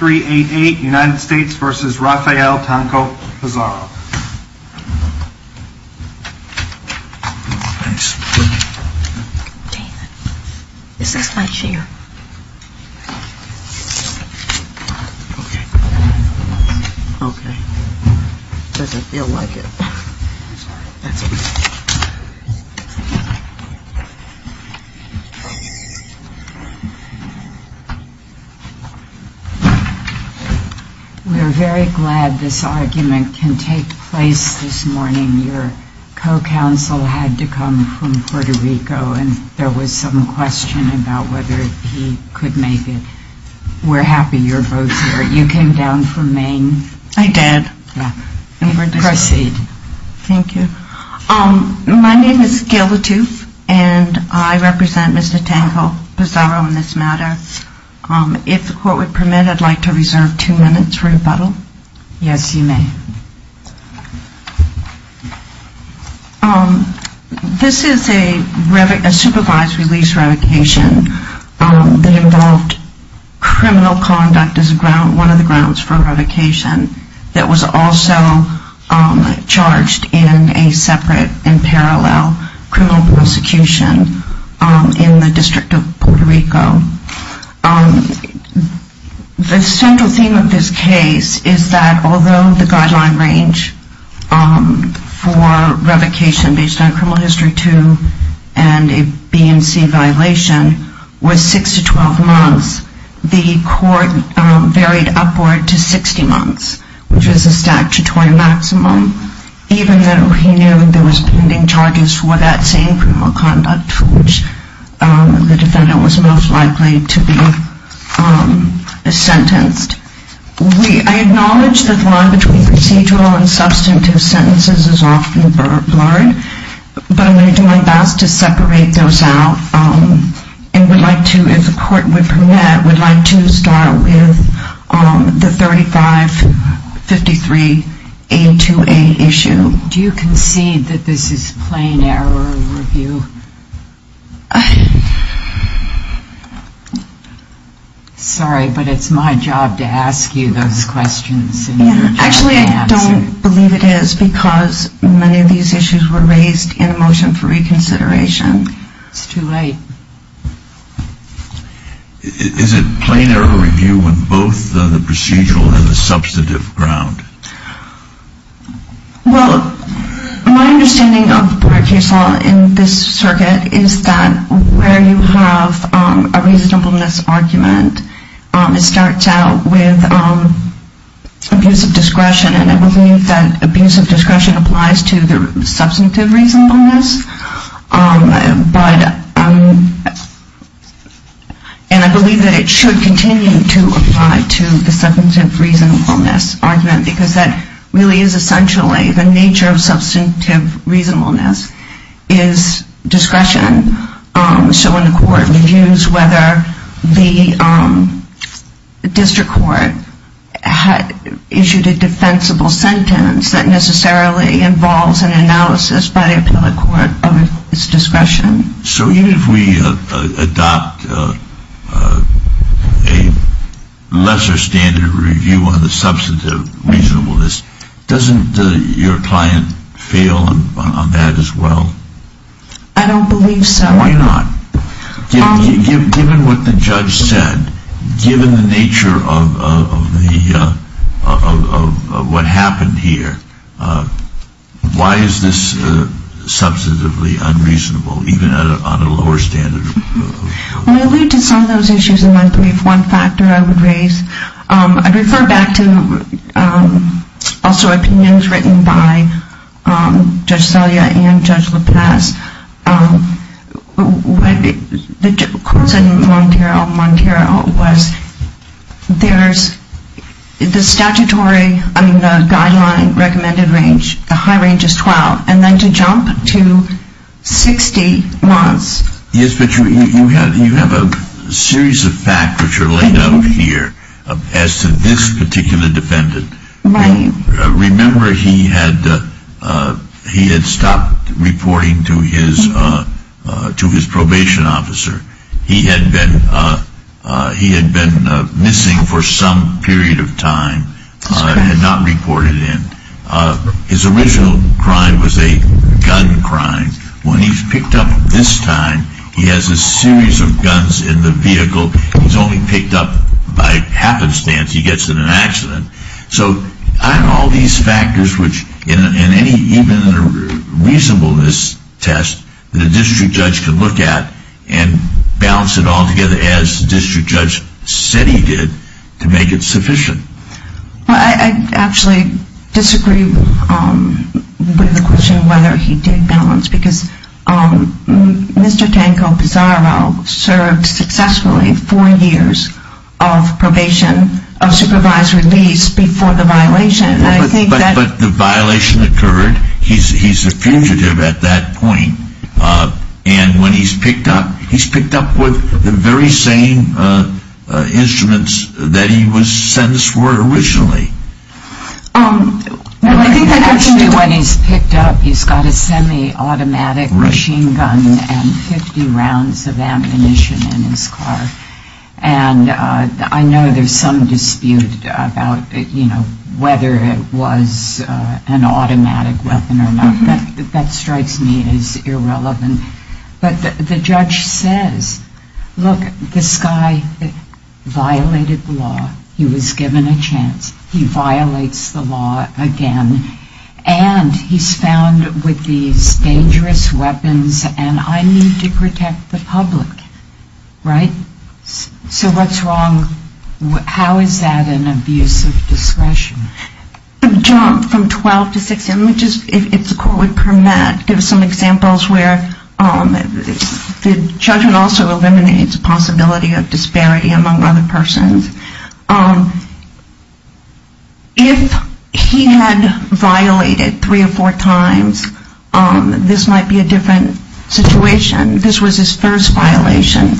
United States v. Rafael Tanco-Pizarro We're very glad this argument can take place this morning. Your co-counsel had to come from Puerto Rico and there was some question about whether he could make it. We're happy you're both here. You came down from Maine? I did. Proceed. Thank you. My name is Gail Latouf and I represent Mr. Tanco-Pizarro in this matter. If the court would permit, I'd like to reserve two minutes for rebuttal. Yes, you may. This is a supervised release revocation that involved criminal conduct as one of the grounds for revocation that was also charged in a separate and parallel criminal prosecution in the District of Puerto Rico. The central theme of this case is that although the guideline range for revocation based on criminal history 2 and a BNC violation was 6 to 12 months, the court varied upward to 60 months, which was the statutory maximum, even though he knew there was pending charges for that same criminal conduct for which the defendant was most likely to be charged. I acknowledge that the line between procedural and substantive sentences is often blurred, but I'm going to do my best to separate those out and would like to, if the court would permit, would like to start with the 3553A2A issue. Do you concede that this is plain error review? Sorry, but it's my job to ask you those questions. Actually, I don't believe it is because many of these issues were raised in a motion for reconsideration. It's too late. Is it plain error review when both the procedural and the substantive ground? Well, my understanding of court case law in this circuit is that where you have a reasonableness argument, it starts out with abuse of discretion, and I believe that abuse of discretion applies to the substantive reasonableness. And I believe that it should continue to apply to the substantive reasonableness argument because that really is essentially the nature of substantive reasonableness is discretion. So when the court reviews whether the district court issued a defensible sentence, that necessarily involves an analysis by the appellate court of its discretion. So even if we adopt a lesser standard review on the substantive reasonableness, doesn't your client fail on that as well? I don't believe so. Why not? Given what the judge said, given the nature of what happened here, why is this substantively unreasonable, even on a lower standard? When we allude to some of those issues in my brief, one factor I would raise, I'd refer back to also opinions written by Judge Selya and Judge LaPaz. The court said in Montero, Montero was, there's the statutory, I mean the guideline recommended range, the high range is 12, and then to jump to 60 months. Yes, but you have a series of facts which are laid out here as to this particular defendant. Remember he had stopped reporting to his probation officer. He had been missing for some period of time and had not reported in. His original crime was a gun crime. When he's picked up this time, he has a series of guns in the vehicle. He's only picked up by happenstance. He gets in an accident. So I'm all these factors which in any even reasonableness test, the district judge can look at and balance it all together as the district judge said he did to make it sufficient. I actually disagree with the question whether he did balance because Mr. Tanko Pizarro served successfully four years of probation, of supervised release before the violation. But the violation occurred. He's a fugitive at that point. And when he's picked up, he's picked up with the very same instruments that he was sentenced for originally. Actually, when he's picked up, he's got a semi-automatic machine gun and 50 rounds of ammunition in his car. And I know there's some dispute about, you know, whether it was an automatic weapon or not. That strikes me as irrelevant. But the judge says, look, this guy violated the law. He was given a chance. He violates the law again. And he's found with these dangerous weapons and I need to protect the public. Right? So what's wrong? How is that an abuse of discretion? John, from 12 to 6 images, if the court would permit, give us some examples where the judgment also eliminates a possibility of disparity among other persons. If he had violated three or four times, this might be a different situation. This was his first violation.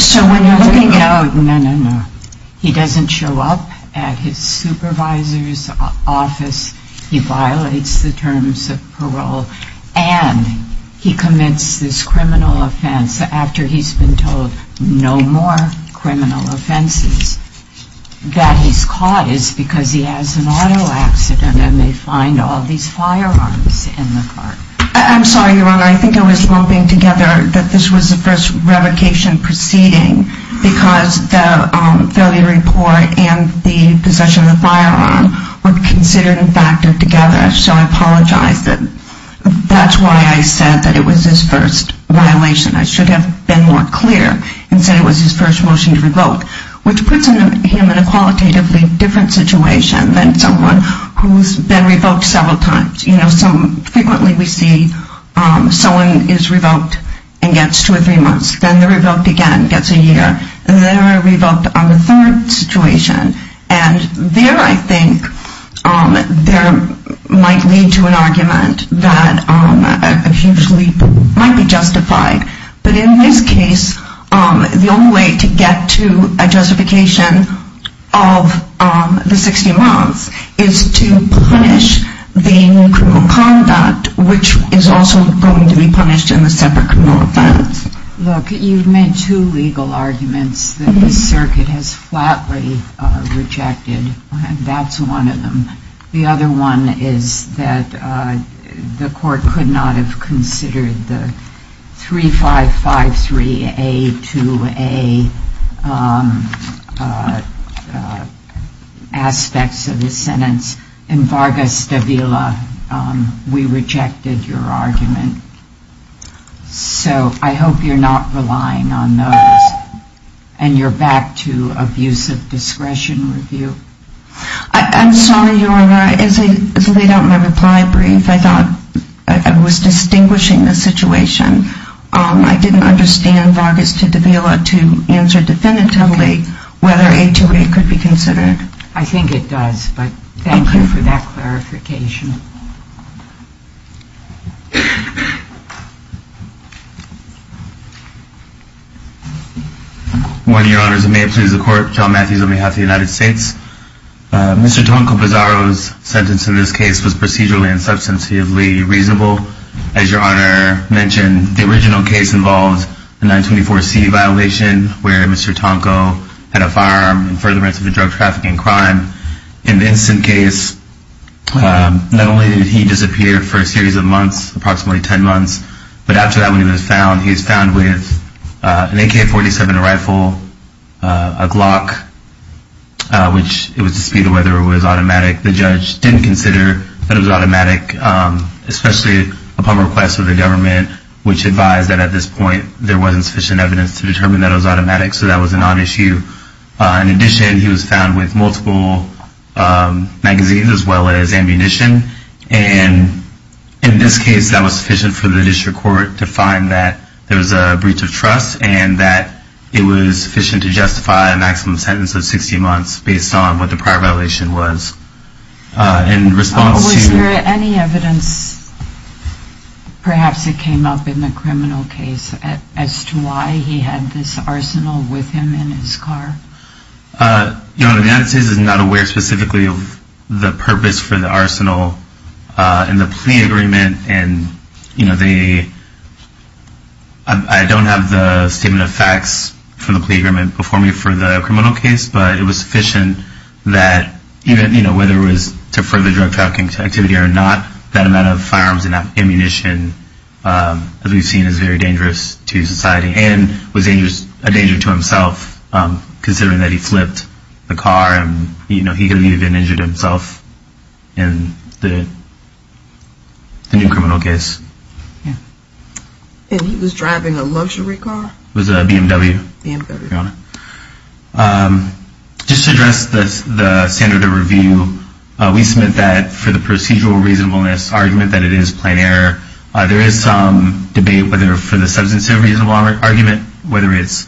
So when you're looking at... No, no, no. He doesn't show up at his supervisor's office. He violates the terms of parole. And he commits this criminal offense after he's been told no more criminal offenses. That he's caught is because he has an auto accident and they find all these firearms in the car. I'm sorry, Your Honor. I think I was lumping together that this was the first revocation proceeding because the failure report and the possession of the firearm were considered and factored together. So I apologize. That's why I said that it was his first violation. I should have been more clear and said it was his first motion to revoke, which puts him in a qualitatively different situation than someone who's been revoked several times. Frequently we see someone is revoked and gets two or three months. Then they're revoked again, gets a year. And then they're revoked on the third situation. And there, I think, there might lead to an argument that a huge leap might be justified. But in this case, the only way to get to a justification of the 60 months is to punish the criminal conduct, which is also going to be punished in the separate criminal offense. Look, you've made two legal arguments that the circuit has flatly rejected. And that's one of them. The other one is that the court could not have considered the 3553A2A aspects of the sentence. In Vargas de Vila, we rejected your argument. So I hope you're not relying on those. And you're back to abuse of discretion review. I'm sorry, Your Honor. As I laid out my reply brief, I thought I was distinguishing the situation. I didn't understand Vargas de Vila to answer definitively whether A2A could be considered. I think it does. But thank you for that clarification. On behalf of the United States, Mr. Tonko-Bizzaro's sentence in this case was procedurally and substantively reasonable. As Your Honor mentioned, the original case involved a 924C violation, where Mr. Tonko had a firearm in furtherance of a drug trafficking crime. Not only did he disappear for a series of months, approximately 10 months, but after that when he was found, he was found with an AK-47 rifle, a Glock, which it was disputed whether it was automatic. The judge didn't consider that it was automatic, especially upon request of the government, which advised that at this point there wasn't sufficient evidence to determine that it was automatic. So that was a non-issue. In addition, he was found with multiple magazines as well as ammunition. And in this case, that was sufficient for the district court to find that there was a breach of trust and that it was sufficient to justify a maximum sentence of 60 months based on what the prior violation was. In response to- Was there any evidence, perhaps it came up in the criminal case, as to why he had this arsenal with him in his car? Your Honor, the United States is not aware specifically of the purpose for the arsenal in the plea agreement. And I don't have the statement of facts from the plea agreement before me for the criminal case, but it was sufficient that whether it was to further drug trafficking activity or not, that amount of firearms and ammunition, as we've seen, is very dangerous to society. And was a danger to himself, considering that he flipped the car and, you know, he could have even injured himself in the new criminal case. And he was driving a luxury car? It was a BMW, Your Honor. Just to address the standard of review, we submit that for the procedural reasonableness argument, that it is plain error. There is some debate whether for the substantive reasonable argument, whether it's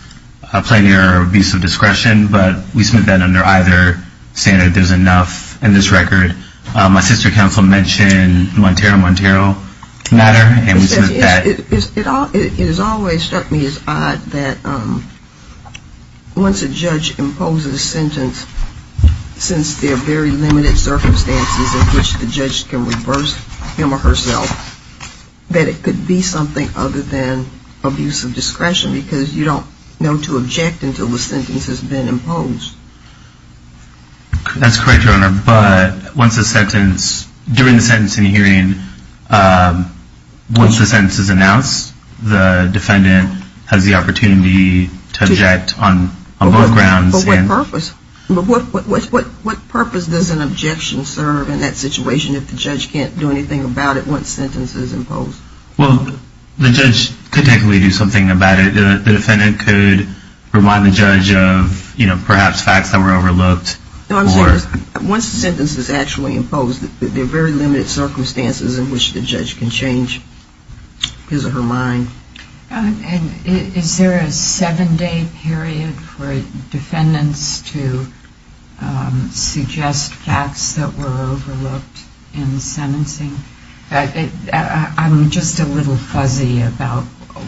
a plain error or abuse of discretion, but we submit that under either standard, there's enough in this record. My sister counsel mentioned Montero, Montero matter, and we submit that- It has always struck me as odd that once a judge imposes a sentence, since there are very limited circumstances in which the judge can reverse him or herself, that it could be something other than abuse of discretion, because you don't know to object until the sentence has been imposed. That's correct, Your Honor. But during the sentencing hearing, once the sentence is announced, the defendant has the opportunity to object on both grounds. But what purpose does an objection serve in that situation if the judge can't do anything about it once the sentence is imposed? Well, the judge could technically do something about it. The defendant could remind the judge of, you know, perhaps facts that were overlooked. No, I'm saying once the sentence is actually imposed, there are very limited circumstances in which the judge can change his or her mind. And is there a seven-day period for defendants to suggest facts that were overlooked in the sentencing? I'm just a little fuzzy about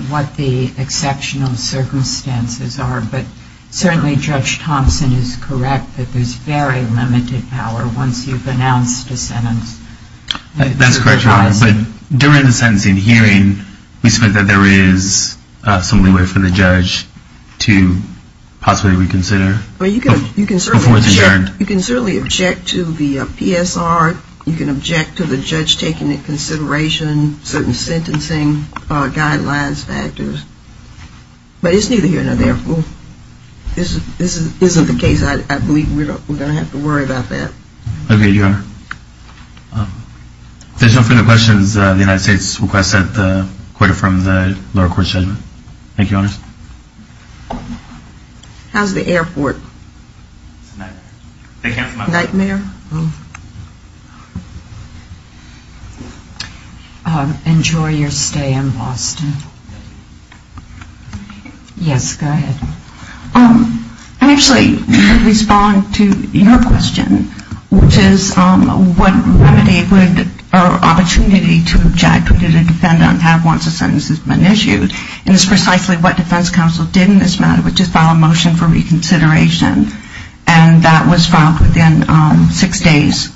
what the exceptional circumstances are, but certainly Judge Thompson is correct that there's very limited power once you've announced a sentence. That's correct, Your Honor. But during the sentencing hearing, we suspect that there is some leeway for the judge to possibly reconsider before it's adjourned. You can certainly object to the PSR. You can object to the judge taking into consideration certain sentencing guidelines, factors. But it's neither here nor there. This isn't the case. I believe we're going to have to worry about that. Okay, Your Honor. If there's no further questions, the United States requests that the court affirm the lower court's judgment. Thank you, Your Honor. How's the airport? It's a nightmare. Nightmare? Enjoy your stay in Boston. Yes, go ahead. I'm actually going to respond to your question, which is what remedy or opportunity would a defendant have once a sentence has been issued? And it's precisely what defense counsel did in this matter, which is file a motion for reconsideration. And that was filed within six days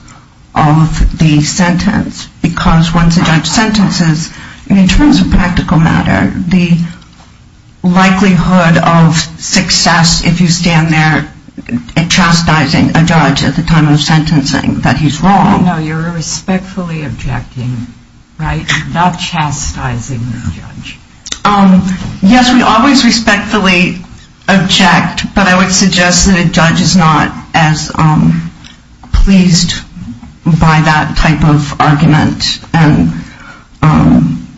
of the sentence. Because once a judge sentences, in terms of practical matter, the likelihood of success if you stand there chastising a judge at the time of sentencing that he's wrong. No, you're respectfully objecting, right? Not chastising the judge. Yes, we always respectfully object. But I would suggest that a judge is not as pleased by that type of argument.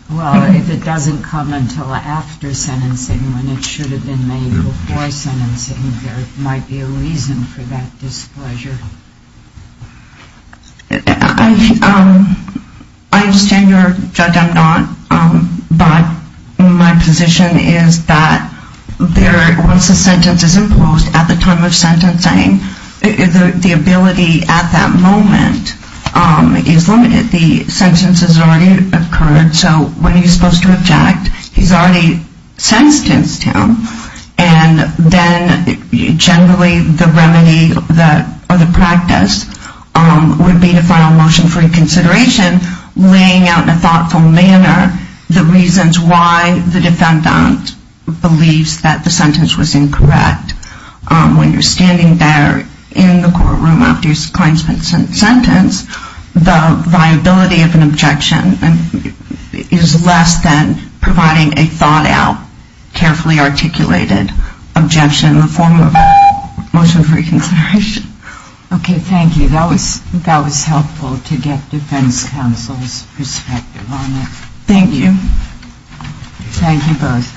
Well, if it doesn't come until after sentencing when it should have been made before sentencing, there might be a reason for that displeasure. I understand your judgment. I'm not. But my position is that once a sentence is imposed at the time of sentencing, the ability at that moment is limited. The sentence has already occurred. So when he's supposed to object, he's already sentenced him. And then generally the remedy or the practice would be to file a motion for reconsideration, laying out in a thoughtful manner the reasons why the defendant believes that the sentence was incorrect. When you're standing there in the courtroom after your client's been sentenced, the viability of an objection is less than providing a thought-out, carefully articulated objection in the form of a motion for reconsideration. Okay, thank you. That was helpful to get defense counsel's perspective on it. Thank you. Thank you both.